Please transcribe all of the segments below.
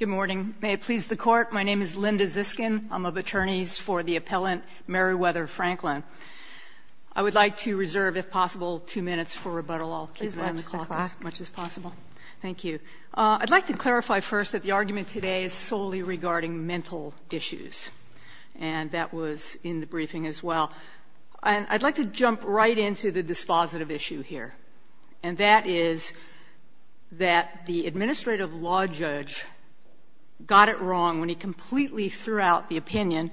Good morning. May it please the Court, my name is Linda Ziskin. I'm of attorneys for the appellant Merriweather Franklin. I would like to reserve, if possible, two minutes for rebuttal. I'll keep the clock as much as possible. Thank you. I'd like to clarify first that the argument today is solely regarding mental issues. And that was in the briefing as well. I'd like to jump right into the dispositive issue here. And that is that the administrative law judge got it wrong when he completely threw out the opinion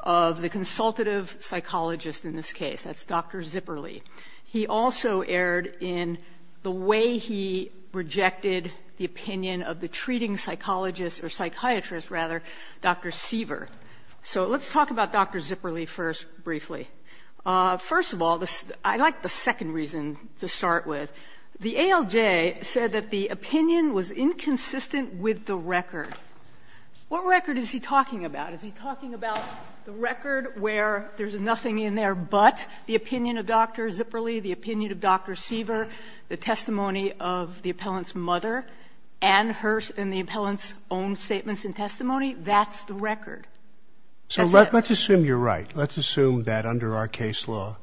of the consultative psychologist in this case. That's Dr. Zipperly. He also erred in the way he rejected the opinion of the treating psychologist, or psychiatrist, rather, Dr. Siever. So let's talk about Dr. Zipperly first briefly. First of all, I'd like the second reason to start with. The ALJ said that the opinion was inconsistent with the record. What record is he talking about? Is he talking about the record where there's nothing in there but the opinion of Dr. Zipperly, the opinion of Dr. Siever, the testimony of the appellant's mother, and the appellant's own statements and testimony? That's the record. So let's assume you're right. Let's assume that under our case law,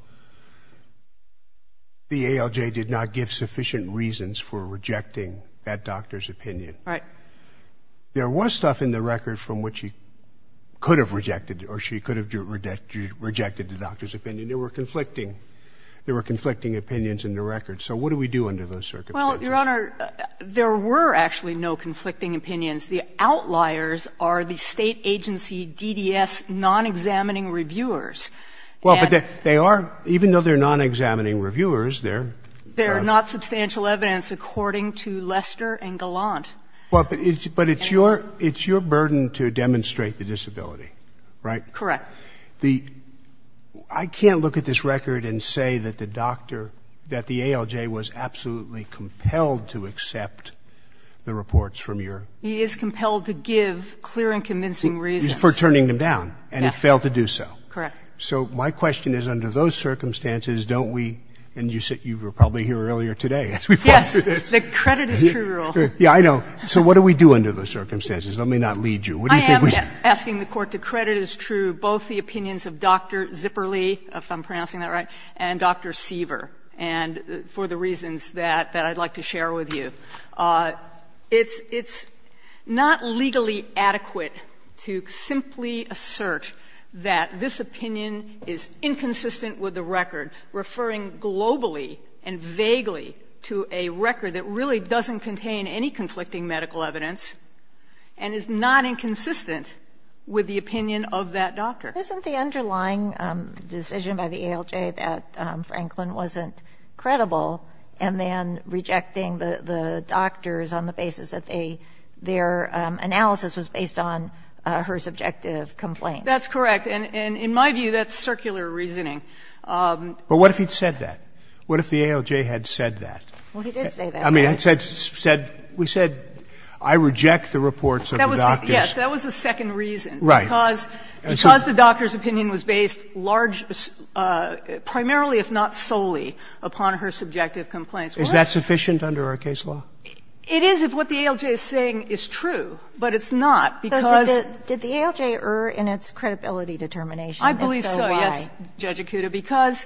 the ALJ did not give sufficient reasons for rejecting that doctor's opinion. Right. There was stuff in the record from which he could have rejected or she could have rejected the doctor's opinion. They were conflicting. There were conflicting opinions in the record. So what do we do under those circumstances? Your Honor, there were actually no conflicting opinions. The outliers are the State Agency DDS non-examining reviewers. Well, but they are, even though they're non-examining reviewers, they're not substantial evidence according to Lester and Gallant. Well, but it's your burden to demonstrate the disability, right? Correct. Now, the — I can't look at this record and say that the doctor, that the ALJ was absolutely compelled to accept the reports from your — He is compelled to give clear and convincing reasons. For turning them down. And he failed to do so. Correct. So my question is, under those circumstances, don't we — and you were probably here earlier today. Yes. The credit is true rule. Yeah, I know. So what do we do under those circumstances? Let me not lead you. I am asking the Court to credit as true both the opinions of Dr. Zipperly, if I'm pronouncing that right, and Dr. Siever, and for the reasons that I'd like to share with you. It's not legally adequate to simply assert that this opinion is inconsistent with the record, referring globally and vaguely to a record that really doesn't contain any conflicting medical evidence and is not inconsistent with the opinion of that doctor. Isn't the underlying decision by the ALJ that Franklin wasn't credible and then rejecting the doctors on the basis that they — their analysis was based on her subjective complaints? That's correct. And in my view, that's circular reasoning. But what if he'd said that? What if the ALJ had said that? Well, he did say that. I mean, we said I reject the reports of the doctors. That was the second reason. Right. Because the doctor's opinion was based large — primarily, if not solely, upon her subjective complaints. Is that sufficient under our case law? It is if what the ALJ is saying is true. But it's not, because — But did the ALJ err in its credibility determination? If so, why? Because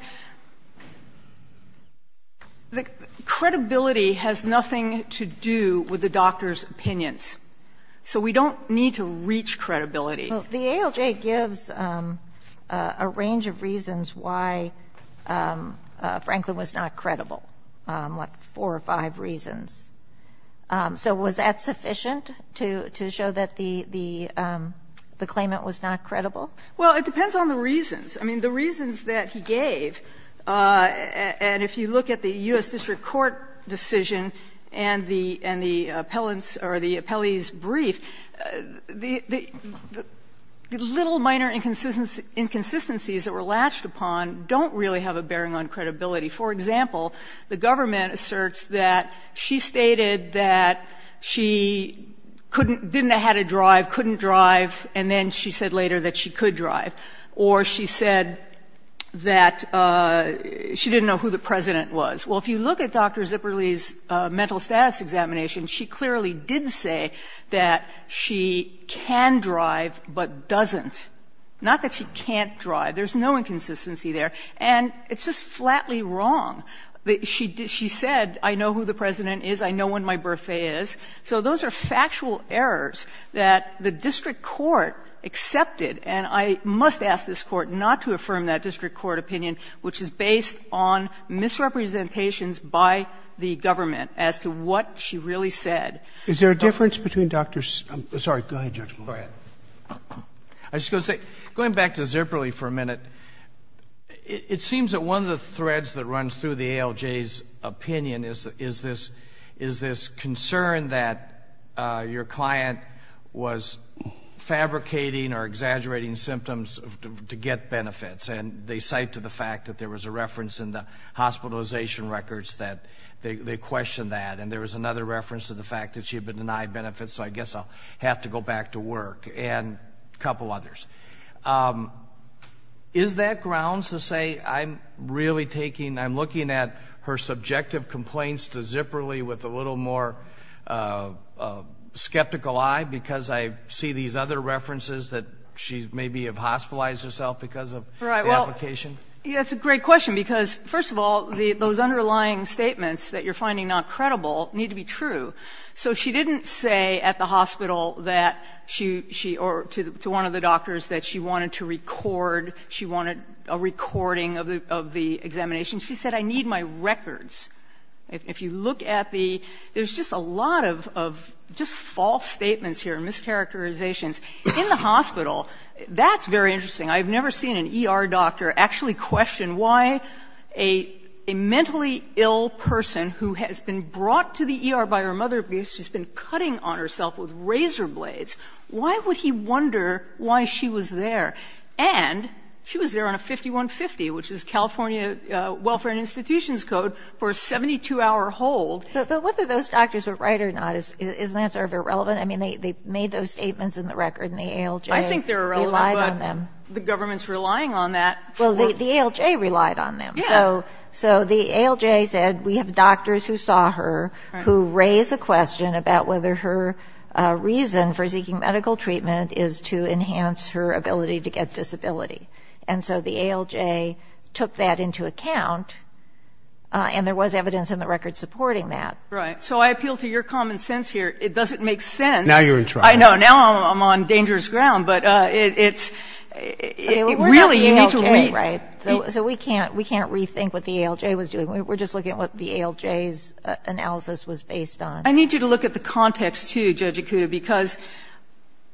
credibility has nothing to do with the doctor's opinions. So we don't need to reach credibility. The ALJ gives a range of reasons why Franklin was not credible, like four or five reasons. So was that sufficient to show that the claimant was not credible? Well, it depends on the reasons. I mean, the reasons that he gave, and if you look at the U.S. District Court decision and the appellant's or the appellee's brief, the little minor inconsistencies that were latched upon don't really have a bearing on credibility. For example, the government asserts that she stated that she didn't know how to drive, couldn't drive, and then she said later that she could drive. Or she said that she didn't know who the President was. Well, if you look at Dr. Zipperly's mental status examination, she clearly did say that she can drive but doesn't. Not that she can't drive. There's no inconsistency there. And it's just flatly wrong. She said, I know who the President is, I know when my birthday is. So those are factual errors that the district court accepted. And I must ask this Court not to affirm that district court opinion, which is based on misrepresentations by the government as to what she really said. Is there a difference between Dr. Zipperly's and Dr. Zipperly's? I'm sorry, go ahead, Judge Kagan. I was just going to say, going back to Zipperly for a minute, it seems that one of the threads that runs through the ALJ's opinion is this concern that your client was fabricating or exaggerating symptoms to get benefits. And they cite to the fact that there was a reference in the hospitalization records that they questioned that. And there was another reference to the fact that she had been denied benefits, so I guess I'll have to go back to work. And a couple others. Is that grounds to say I'm really taking, I'm looking at her subjective complaints to Zipperly with a little more skeptical eye because I see these other references that she maybe have hospitalized herself because of the application? That's a great question because, first of all, those underlying statements that you're finding not credible need to be true. So she didn't say at the hospital that she, or to one of the doctors, that she wanted to record, she wanted a recording of the examination. She said, I need my records. If you look at the, there's just a lot of just false statements here, mischaracterizations. In the hospital, that's very interesting. I've never seen an ER doctor actually question why a mentally ill person who has been brought to the ER by her mother because she's been cutting on herself with razor blades, why would he wonder why she was there? And she was there on a 5150, which is California Welfare and Institutions Code, for a 72-hour hold. But whether those doctors were right or not, isn't that sort of irrelevant? I mean, they made those statements in the record, and the ALJ relied on them. I think they're irrelevant, but the government's relying on that. Well, the ALJ relied on them. Yeah. So the ALJ said, we have doctors who saw her who raised a question about whether her reason for seeking medical treatment is to enhance her ability to get disability. And so the ALJ took that into account, and there was evidence in the record supporting that. Right. So I appeal to your common sense here. It doesn't make sense. Now you're in trouble. I know. Now I'm on dangerous ground. But it's really need to wait. Right. So we can't rethink what the ALJ was doing. We're just looking at what the ALJ's analysis was based on. I need you to look at the context, too, Judge Acuda, because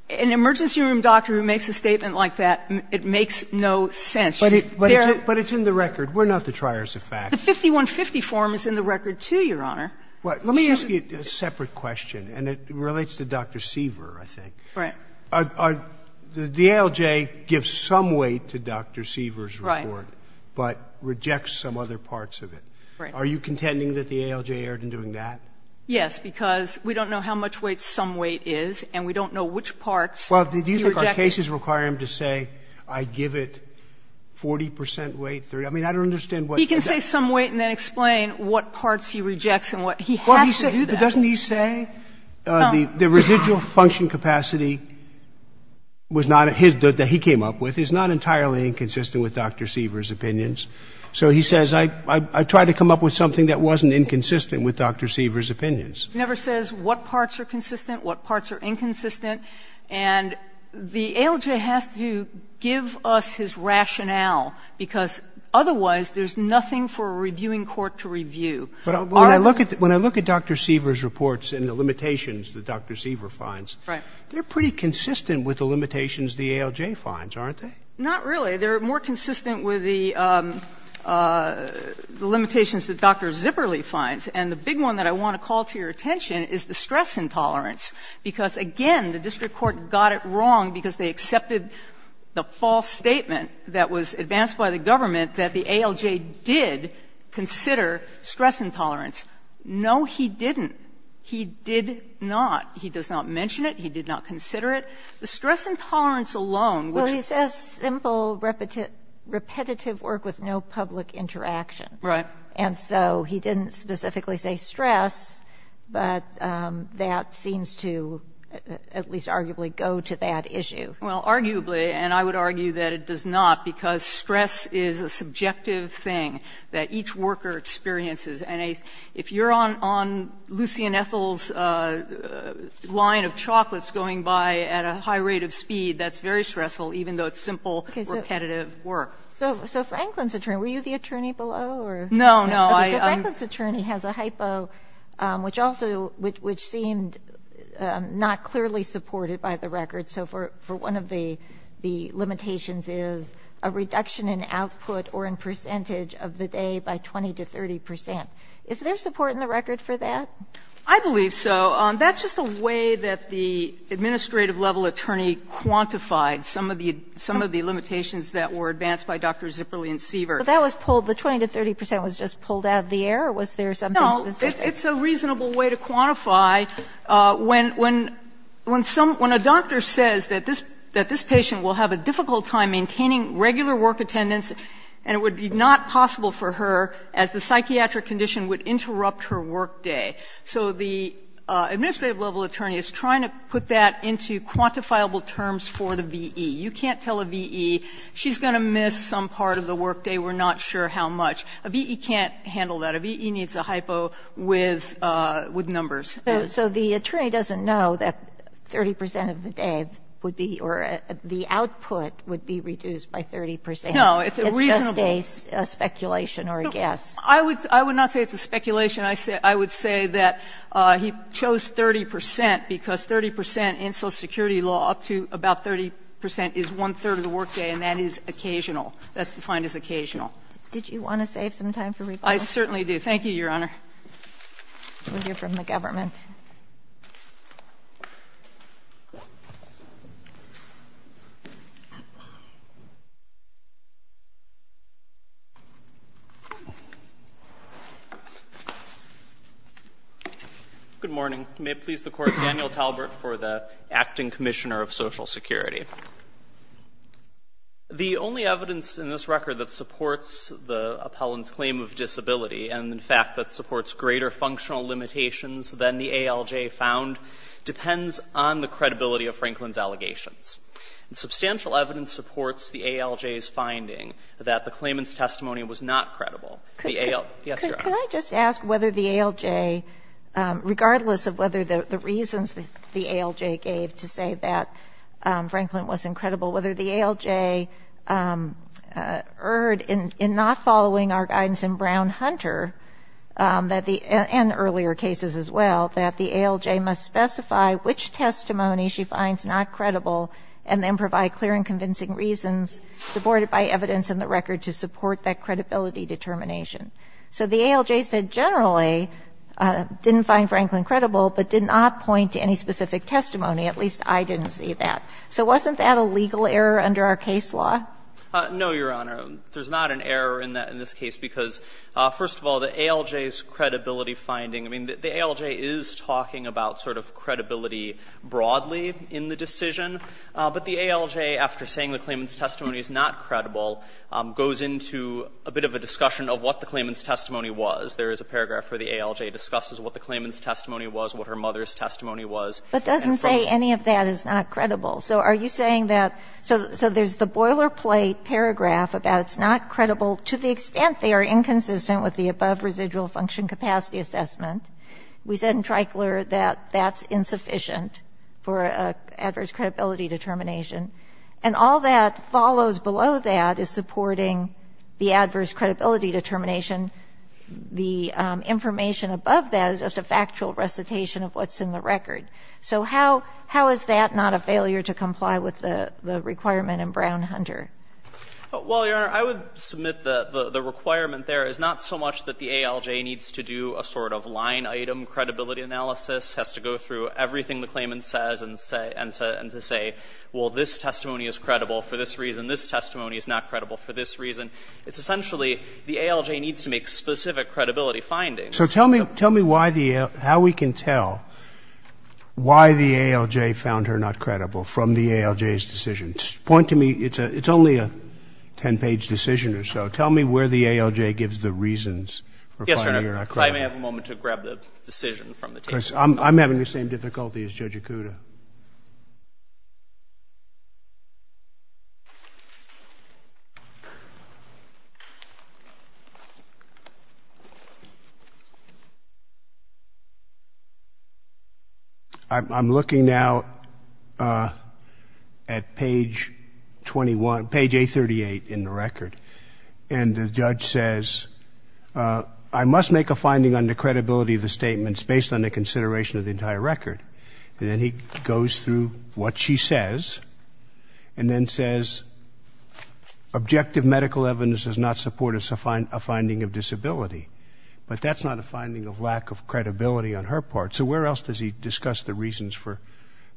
an emergency room doctor who makes a statement like that, it makes no sense. But it's in the record. We're not the triers of fact. The 5150 form is in the record, too, Your Honor. Let me ask you a separate question, and it relates to Dr. Seaver, I think. Right. The ALJ gives some weight to Dr. Seaver's report. Right. But rejects some other parts of it. Right. Are you contending that the ALJ erred in doing that? Yes, because we don't know how much weight some weight is, and we don't know which parts he rejected. Well, do you think our cases require him to say, I give it 40 percent weight, 30? I mean, I don't understand what you're saying. He can say some weight and then explain what parts he rejects and what he has to do that. But doesn't he say the residual function capacity was not his, that he came up with is not entirely inconsistent with Dr. Seaver's opinions? So he says, I tried to come up with something that wasn't inconsistent with Dr. Seaver's opinions. He never says what parts are consistent, what parts are inconsistent. And the ALJ has to give us his rationale, because otherwise there's nothing for a reviewing court to review. When I look at Dr. Seaver's reports and the limitations that Dr. Seaver finds, they're pretty consistent with the limitations the ALJ finds, aren't they? Not really. They're more consistent with the limitations that Dr. Zipperly finds. And the big one that I want to call to your attention is the stress intolerance, because, again, the district court got it wrong because they accepted the false statement that was advanced by the government that the ALJ did consider stress intolerance. No, he didn't. He did not. He does not mention it. He did not consider it. The stress intolerance alone, which is a simple repetitive work with no public interaction. Right. And so he didn't specifically say stress, but that seems to at least arguably go to that issue. Well, arguably, and I would argue that it does not, because stress is a subjective thing that each worker experiences. And if you're on Lucy and Ethel's line of chocolates going by at a high rate of speed, that's very stressful, even though it's simple, repetitive work. So Franklin's attorney, were you the attorney below, or? No, no. So Franklin's attorney has a hypo, which also, which seemed not clearly supported by the record. So for one of the limitations is a reduction in output or in percentage of the day by 20 to 30 percent. Is there support in the record for that? I believe so. That's just a way that the administrative level attorney quantified some of the limitations that were advanced by Dr. Zipperly and Siever. But that was pulled, the 20 to 30 percent was just pulled out of the air? Or was there something specific? No. It's a reasonable way to quantify when a doctor says that this patient will have a difficult time maintaining regular work attendance and it would be not possible for her as the psychiatric condition would interrupt her workday. So the administrative level attorney is trying to put that into quantifiable terms for the V.E. You can't tell a V.E. she's going to miss some part of the workday, we're not sure how much. A V.E. can't handle that. A V.E. needs a hypo with numbers. So the attorney doesn't know that 30 percent of the day would be or the output would be reduced by 30 percent. It's a reasonable. It's just a speculation or a guess. I would not say it's a speculation. I would say that he chose 30 percent because 30 percent in Social Security law up to about 30 percent is one-third of the workday and that is occasional. That's defined as occasional. Did you want to save some time for rebuttal? I certainly do. Thank you, Your Honor. We'll hear from the government. Good morning. May it please the Court, Daniel Talbert for the Acting Commissioner of Social Security. The only evidence in this record that supports the appellant's claim of disability and, in fact, that supports greater functional limitations than the ALJ found depends on the credibility of Franklin's allegations. Substantial evidence supports the ALJ's finding that the claimant's testimony was not credible. Could I just ask whether the ALJ, regardless of whether the reasons the ALJ gave to say that Franklin wasn't credible, whether the ALJ erred in not following our guidance in Brown-Hunter and earlier cases as well, that the ALJ must specify which testimony she finds not credible and then provide clear and convincing reasons supported by evidence in the record to support that credibility determination. So the ALJ said generally didn't find Franklin credible but did not point to any specific testimony. At least I didn't see that. So wasn't that a legal error under our case law? No, Your Honor. There's not an error in this case because, first of all, the ALJ's credibility finding, I mean, the ALJ is talking about sort of credibility broadly in the decision, but the ALJ, after saying the claimant's testimony is not credible, goes into a bit of a discussion of what the claimant's testimony was. There is a paragraph where the ALJ discusses what the claimant's testimony was, what her mother's testimony was. But doesn't say any of that is not credible. So are you saying that so there's the boilerplate paragraph about it's not credible to the extent they are inconsistent with the above residual function capacity assessment. We said in Trichler that that's insufficient for adverse credibility determination. And all that follows below that is supporting the adverse credibility determination. The information above that is just a factual recitation of what's in the record. So how is that not a failure to comply with the requirement in Brown-Hunter? Well, Your Honor, I would submit the requirement there is not so much that the ALJ needs to do a sort of line item credibility analysis, has to go through everything the claimant says and to say, well, this testimony is credible for this reason, this testimony is not credible for this reason. It's essentially the ALJ needs to make specific credibility findings. So tell me why the ALJ, how we can tell why the ALJ found her not credible from the ALJ's decision. Point to me. It's only a ten-page decision or so. Tell me where the ALJ gives the reasons for finding her not credible. Yes, Your Honor. If I may have a moment to grab the decision from the tape. I'm having the same difficulty as Judge Ikuda. I'm looking now at page 21, page A38 in the record. And the judge says, I must make a finding on the credibility of the statements based on the consideration of the entire record. And then he goes through what she says and then says, objective medical evidence does not support a finding of disability. But that's not a finding of lack of credibility on her part. So where else does he discuss the reasons for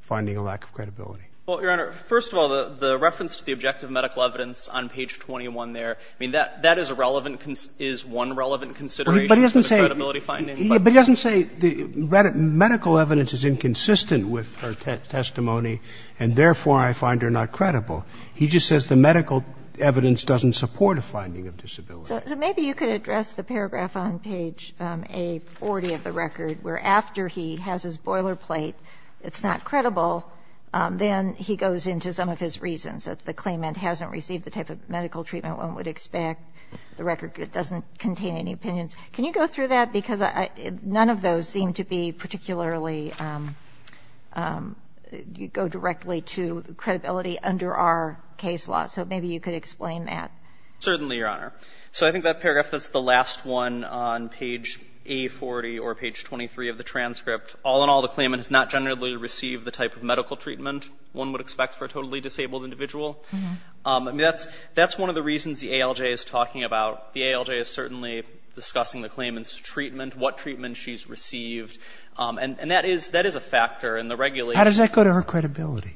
finding a lack of credibility? Well, Your Honor, first of all, the reference to the objective medical evidence on page 21 there, I mean, that is a relevant, is one relevant consideration of the credibility finding. But he doesn't say the medical evidence is inconsistent with her testimony and therefore I find her not credible. He just says the medical evidence doesn't support a finding of disability. So maybe you could address the paragraph on page A40 of the record where after he has his boilerplate, it's not credible, then he goes into some of his reasons that the claimant hasn't received the type of medical treatment one would expect, the record doesn't contain any opinions. Can you go through that? Because none of those seem to be particularly go directly to credibility under our case law. So maybe you could explain that. Certainly, Your Honor. So I think that paragraph that's the last one on page A40 or page 23 of the transcript, all in all, the claimant has not generally received the type of medical treatment one would expect for a totally disabled individual. I mean, that's one of the reasons the ALJ is talking about. The ALJ is certainly discussing the claimant's treatment, what treatment she's received, and that is a factor in the regulations. How does that go to her credibility?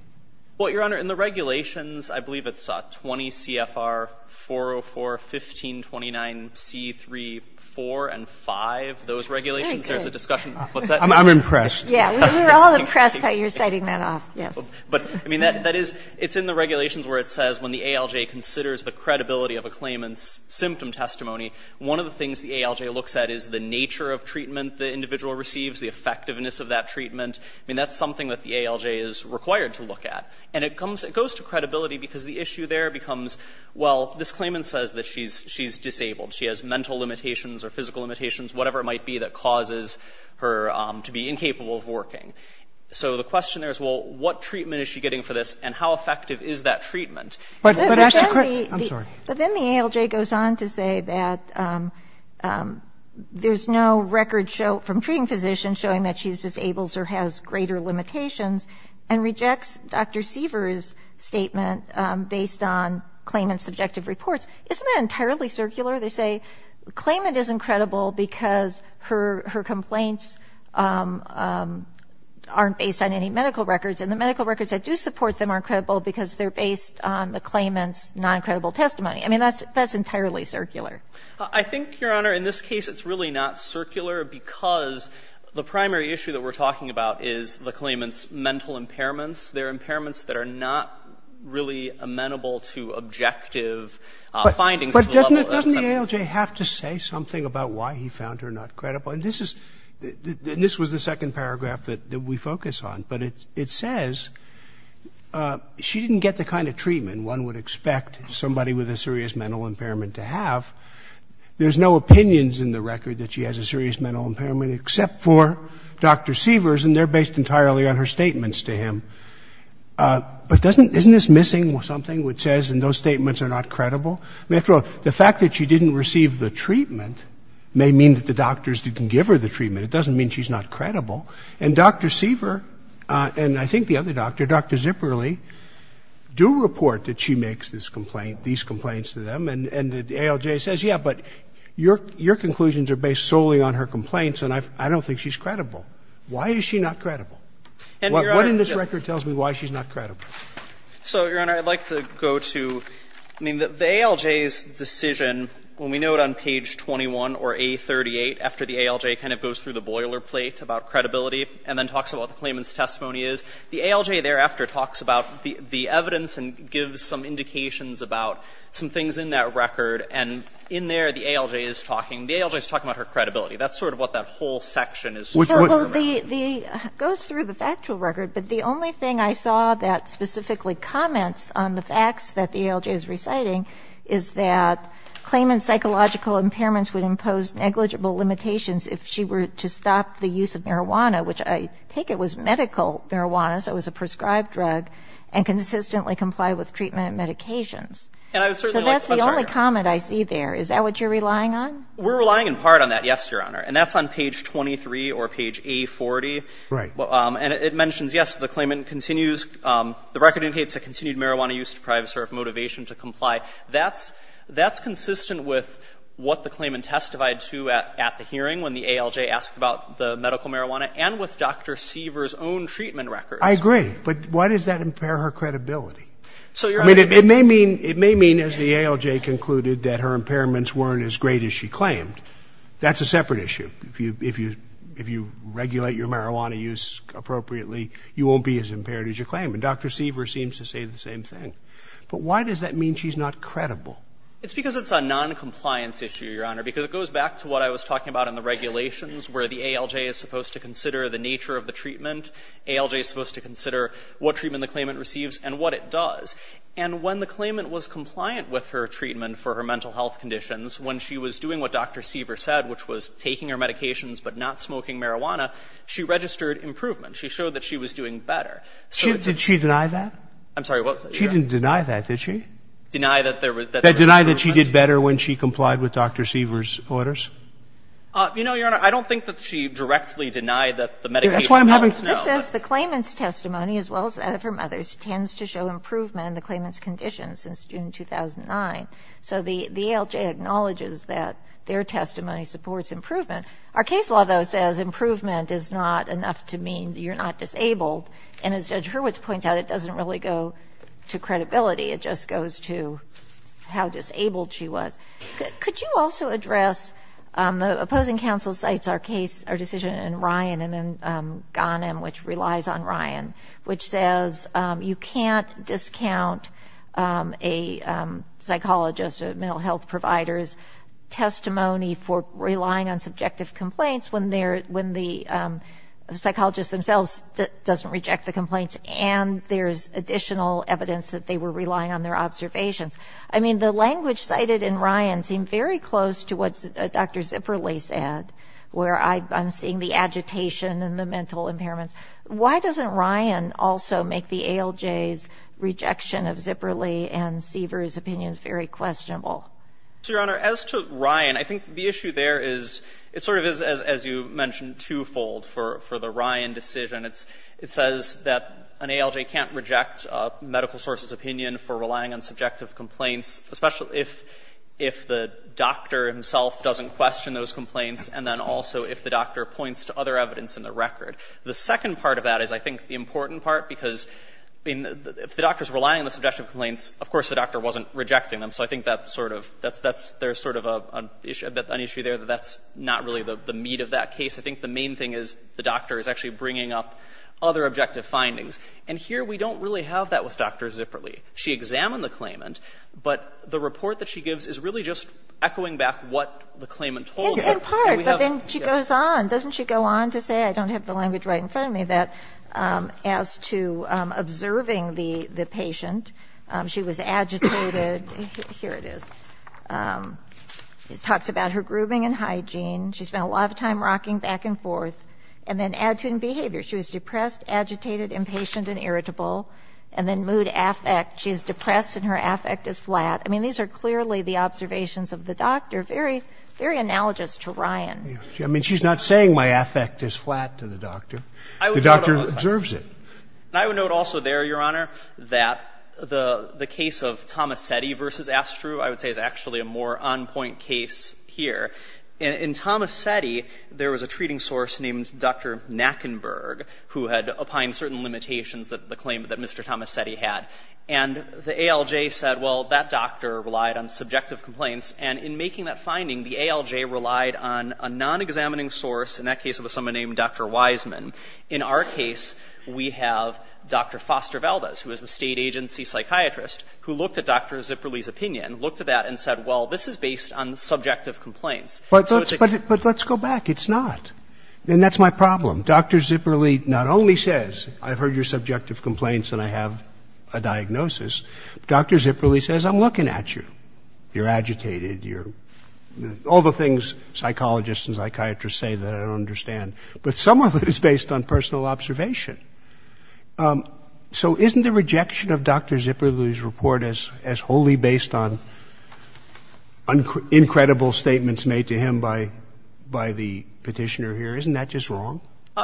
Well, Your Honor, in the regulations, I believe it's 20 CFR 404, 1529C3, 4 and 5. Those regulations, there's a discussion. I'm impressed. Yeah. We're all impressed by your citing that off. Yes. But, I mean, that is, it's in the regulations where it says when the ALJ considers the credibility of a claimant's symptom testimony, one of the things the ALJ looks at is the nature of treatment the individual receives, the effectiveness of that treatment. I mean, that's something that the ALJ is required to look at. And it comes, it goes to credibility because the issue there becomes, well, this claimant says that she's disabled. She has mental limitations or physical limitations, whatever it might be, that causes her to be incapable of working. So the question there is, well, what treatment is she getting for this and how effective is that treatment? I'm sorry. But then the ALJ goes on to say that there's no record from treating physicians showing that she's disabled or has greater limitations and rejects Dr. Siever's statement based on claimant's subjective reports. Isn't that entirely circular? They say claimant isn't credible because her complaints aren't based on any medical records, and the medical records that do support them aren't credible because they're based on the claimant's non-credible testimony. I mean, that's entirely circular. I think, Your Honor, in this case it's really not circular because the primary issue that we're talking about is the claimant's mental impairments. They're impairments that are not really amenable to objective findings to the level of the subject. But doesn't the ALJ have to say something about why he found her not credible? And this is, this was the second paragraph that we focus on. But it says she didn't get the kind of treatment one would expect somebody with a serious mental impairment to have. There's no opinions in the record that she has a serious mental impairment except for Dr. Siever's, and they're based entirely on her statements to him. But doesn't, isn't this missing something which says those statements are not credible? I mean, after all, the fact that she didn't receive the treatment may mean that the doctors didn't give her the treatment. It doesn't mean she's not credible. And Dr. Siever and I think the other doctor, Dr. Zipperly, do report that she makes this complaint, these complaints to them. And the ALJ says, yeah, but your conclusions are based solely on her complaints and I don't think she's credible. Why is she not credible? What in this record tells me why she's not credible? So, Your Honor, I'd like to go to, I mean, the ALJ's decision, when we note on page 21 or A38 after the ALJ kind of goes through the boilerplate about credibility and then talks about the claimant's testimony is, the ALJ thereafter talks about the evidence and gives some indications about some things in that record. And in there, the ALJ is talking, the ALJ is talking about her credibility. That's sort of what that whole section is talking about. Well, the, it goes through the factual record, but the only thing I saw that specifically comments on the facts that the ALJ is reciting is that claimant's psychological impairments would impose negligible limitations if she were to stop the use of marijuana, which I take it was medical marijuana, so it was a prescribed drug, and consistently comply with treatment and medications. So that's the only comment I see there. Is that what you're relying on? We're relying in part on that, yes, Your Honor. And that's on page 23 or page A40. Right. And it mentions, yes, the claimant continues, the record indicates that continued marijuana use deprives her of motivation to comply. That's, that's consistent with what the claimant testified to at the hearing when the ALJ asked about the medical marijuana and with Dr. Siever's own treatment records. I agree. But why does that impair her credibility? So, Your Honor. I mean, it may mean, it may mean, as the ALJ concluded, that her impairments weren't as great as she claimed. That's a separate issue. If you, if you, if you regulate your marijuana use appropriately, you won't be as impaired as you claim. And Dr. Siever seems to say the same thing. But why does that mean she's not credible? It's because it's a noncompliance issue, Your Honor, because it goes back to what I was talking about in the regulations where the ALJ is supposed to consider the nature of the treatment. ALJ is supposed to consider what treatment the claimant receives and what it does. And when the claimant was compliant with her treatment for her mental health conditions, when she was doing what Dr. Siever said, which was taking her medications but not smoking marijuana, she registered improvement. She showed that she was doing better. Did she deny that? I'm sorry. She didn't deny that, did she? Deny that there was no improvement. Deny that she did better when she complied with Dr. Siever's orders? You know, Your Honor, I don't think that she directly denied that the medication helped, no. This says the claimant's testimony, as well as that of her mother's, tends to show improvement in the claimant's condition since June 2009. So the ALJ acknowledges that their testimony supports improvement. Our case law, though, says improvement is not enough to mean you're not disabled. And as Judge Hurwitz points out, it doesn't really go to credibility. It just goes to how disabled she was. Could you also address the opposing counsel's case, our decision in Ryan and in Ghanem, which relies on Ryan, which says you can't discount a psychologist or mental health provider's testimony for relying on subjective complaints when the psychologist themselves doesn't reject the complaints and there's additional evidence that they were relying on their observations? I mean, the language cited in Ryan seemed very close to what Dr. Zipperly said, where I'm seeing the agitation and the mental impairments. Why doesn't Ryan also make the ALJ's rejection of Zipperly and Siever's opinions very questionable? So, Your Honor, as to Ryan, I think the issue there is, it sort of is, as you mentioned, twofold for the Ryan decision. It says that an ALJ can't reject a medical source's opinion for relying on subjective complaints, especially if the doctor himself doesn't question those complaints and then also if the doctor points to other evidence in the record. The second part of that is, I think, the important part, because if the doctor is relying on the subjective complaints, of course the doctor wasn't rejecting them. So I think that sort of, that's, there's sort of an issue there that that's not really the meat of that case. I think the main thing is the doctor is actually bringing up other objective findings. And here we don't really have that with Dr. Zipperly. She examined the claimant, but the report that she gives is really just echoing back what the claimant told her. And we have, yes. In part, but then she goes on. Doesn't she go on to say, I don't have the language right in front of me, that as to Here it is. It talks about her grooving and hygiene. She spent a lot of time rocking back and forth. And then attitude and behavior. She was depressed, agitated, impatient and irritable. And then mood, affect. She is depressed and her affect is flat. I mean, these are clearly the observations of the doctor, very, very analogous to Ryan. I mean, she's not saying my affect is flat to the doctor. The doctor observes it. And I would note also there, Your Honor, that the case of Tomasetti versus Astru, I would say is actually a more on-point case here. In Tomasetti, there was a treating source named Dr. Nackenberg who had opined certain limitations that the claimant, that Mr. Tomasetti had. And the ALJ said, well, that doctor relied on subjective complaints. And in making that finding, the ALJ relied on a non-examining source. In that case, it was someone named Dr. Wiseman. In our case, we have Dr. Foster Valdez, who is the state agency psychiatrist, who looked at Dr. Zipperly's opinion, looked at that and said, well, this is based on subjective complaints. But let's go back. It's not. And that's my problem. Dr. Zipperly not only says, I've heard your subjective complaints and I have a diagnosis. Dr. Zipperly says, I'm looking at you. You're agitated. All the things psychologists and psychiatrists say that I don't understand. But some of it is based on personal observation. So isn't the rejection of Dr. Zipperly's report as wholly based on incredible statements made to him by the Petitioner here? Isn't that just wrong?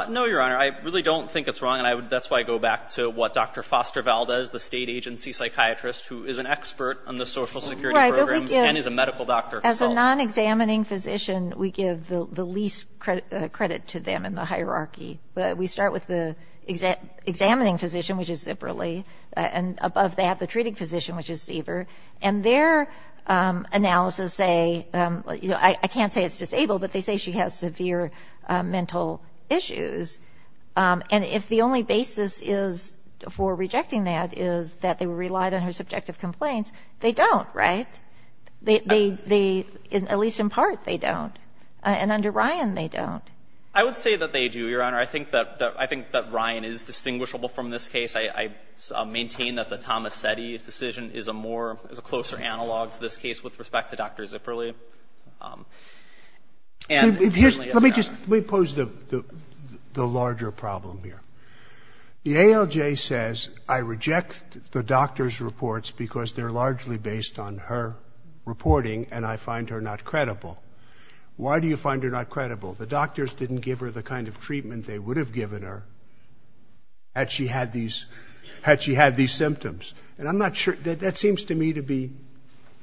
No, Your Honor. I really don't think it's wrong. And that's why I go back to what Dr. Foster Valdez, the state agency psychiatrist who is an expert on the social security programs and is a medical doctor. As a non-examining physician, we give the least credit to them in the hierarchy. We start with the examining physician, which is Zipperly, and above that, the treating physician, which is Ziever. And their analysis say, I can't say it's disabled, but they say she has severe mental issues. And if the only basis is for rejecting that is that they relied on her subjective complaints, they don't, right? They, at least in part, they don't. And under Ryan, they don't. I would say that they do, Your Honor. I think that Ryan is distinguishable from this case. I maintain that the Tomasetti decision is a more, is a closer analog to this case with respect to Dr. Zipperly. And apparently it's not. Let me just, let me pose the larger problem here. The ALJ says, I reject the doctor's reports because they're largely based on her reporting and I find her not credible. Why do you find her not credible? The doctors didn't give her the kind of treatment they would have given her had she had these, had she had these symptoms. And I'm not sure, that seems to me to be,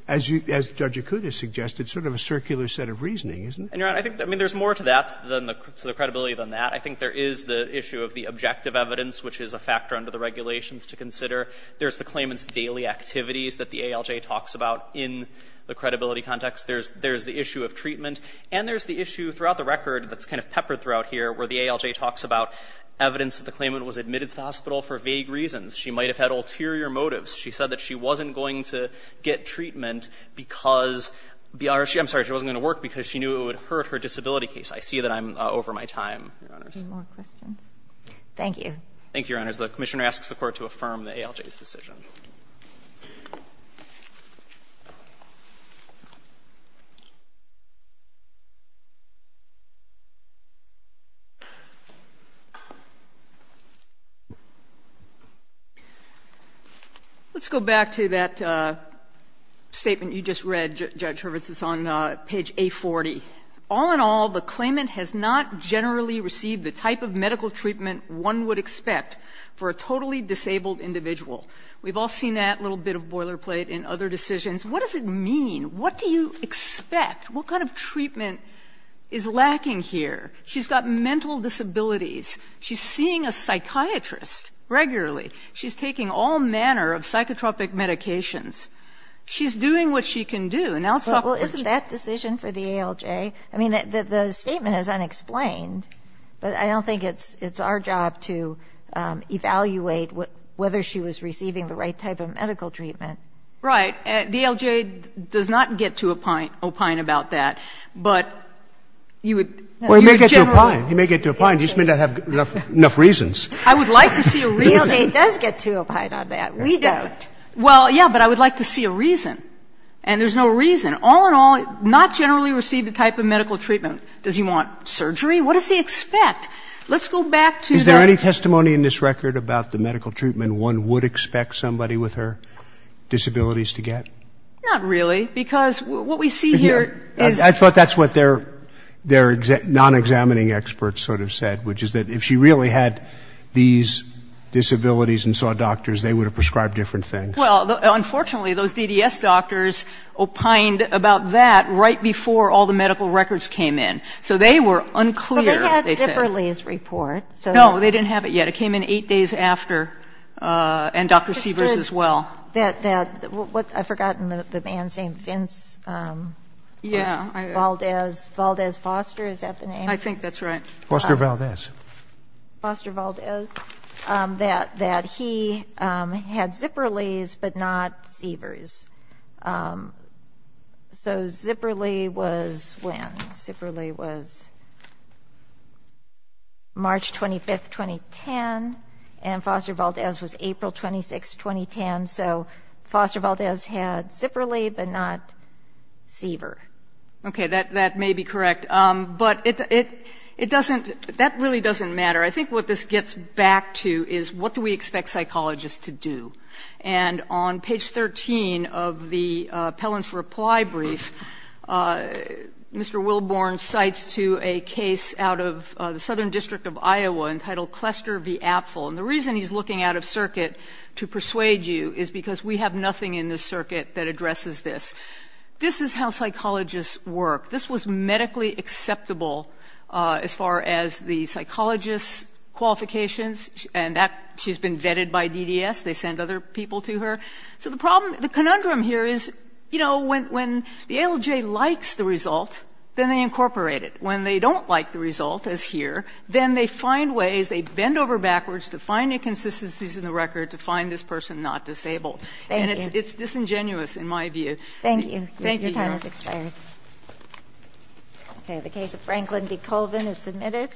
as you, as Judge Akuta suggested, sort of a circular set of reasoning, isn't it? And, Your Honor, I think, I mean, there's more to that than the, to the credibility than that. I think there is the issue of the objective evidence, which is a factor under the regulations to consider. There's the claimant's daily activities that the ALJ talks about in the credibility context. There's, there's the issue of treatment. And there's the issue throughout the record that's kind of peppered throughout here where the ALJ talks about evidence that the claimant was admitted to the hospital for vague reasons. She might have had ulterior motives. She said that she wasn't going to get treatment because, I'm sorry, she wasn't going to work because she knew it would hurt her disability case. I see that I'm over my time, Your Honors. Thank you. Thank you, Your Honors. The Commissioner asks the Court to affirm the ALJ's decision. Let's go back to that statement you just read, Judge Hurwitz. It's on page A40. All in all, the claimant has not generally received the type of medical treatment one would expect for a totally disabled individual. We've all seen that little bit of boilerplate in other decisions. What does it mean? What do you expect? What kind of treatment is lacking here? She's got mental disabilities. She's seeing a psychiatrist regularly. She's taking all manner of psychotropic medications. She's doing what she can do. And now let's talk about your judgment. Well, isn't that decision for the ALJ? I mean, the statement is unexplained. But I don't think it's our job to evaluate whether she was receiving the right type of medical treatment. Right. The ALJ does not get to opine about that. But you would generalize. Well, he may get to opine. He may get to opine. He just may not have enough reasons. I would like to see a reason. The ALJ does get to opine on that. We don't. Well, yes, but I would like to see a reason. And there's no reason. All in all, not generally receive the type of medical treatment. Does he want surgery? What does he expect? Let's go back to that. Is there any testimony in this record about the medical treatment one would expect somebody with her disabilities to get? Not really, because what we see here is. I thought that's what their non-examining experts sort of said, which is that if she really had these disabilities and saw doctors, they would have prescribed different things. Well, unfortunately, those DDS doctors opined about that right before all the medical records came in. So they were unclear, they said. But they had Zipperly's report. No, they didn't have it yet. It came in eight days after, and Dr. Severs as well. I've forgotten the man's name. Vince Valdez. Valdez Foster, is that the name? I think that's right. Foster Valdez. Foster Valdez. That he had Zipperly's but not Severs. So Zipperly was when? Zipperly was March 25, 2010, and Foster Valdez was April 26, 2010. So Foster Valdez had Zipperly but not Severs. Okay, that may be correct. But that really doesn't matter. I think what this gets back to is what do we expect psychologists to do? And on page 13 of the appellant's reply brief, Mr. Wilborn cites to a case out of the Southern District of Iowa entitled Cluster v. Apfel. And the reason he's looking out of circuit to persuade you is because we have nothing in this circuit that addresses this. This is how psychologists work. This was medically acceptable as far as the psychologist's qualifications, and that, she's been vetted by DDS. They send other people to her. So the problem, the conundrum here is, you know, when the ALJ likes the result, then they incorporate it. When they don't like the result, as here, then they find ways, they bend over backwards to find inconsistencies in the record to find this person not disabled. Thank you. And it's disingenuous in my view. Thank you. Thank you, Your Honor. Your time has expired. Okay. The case of Franklin v. Colvin is submitted.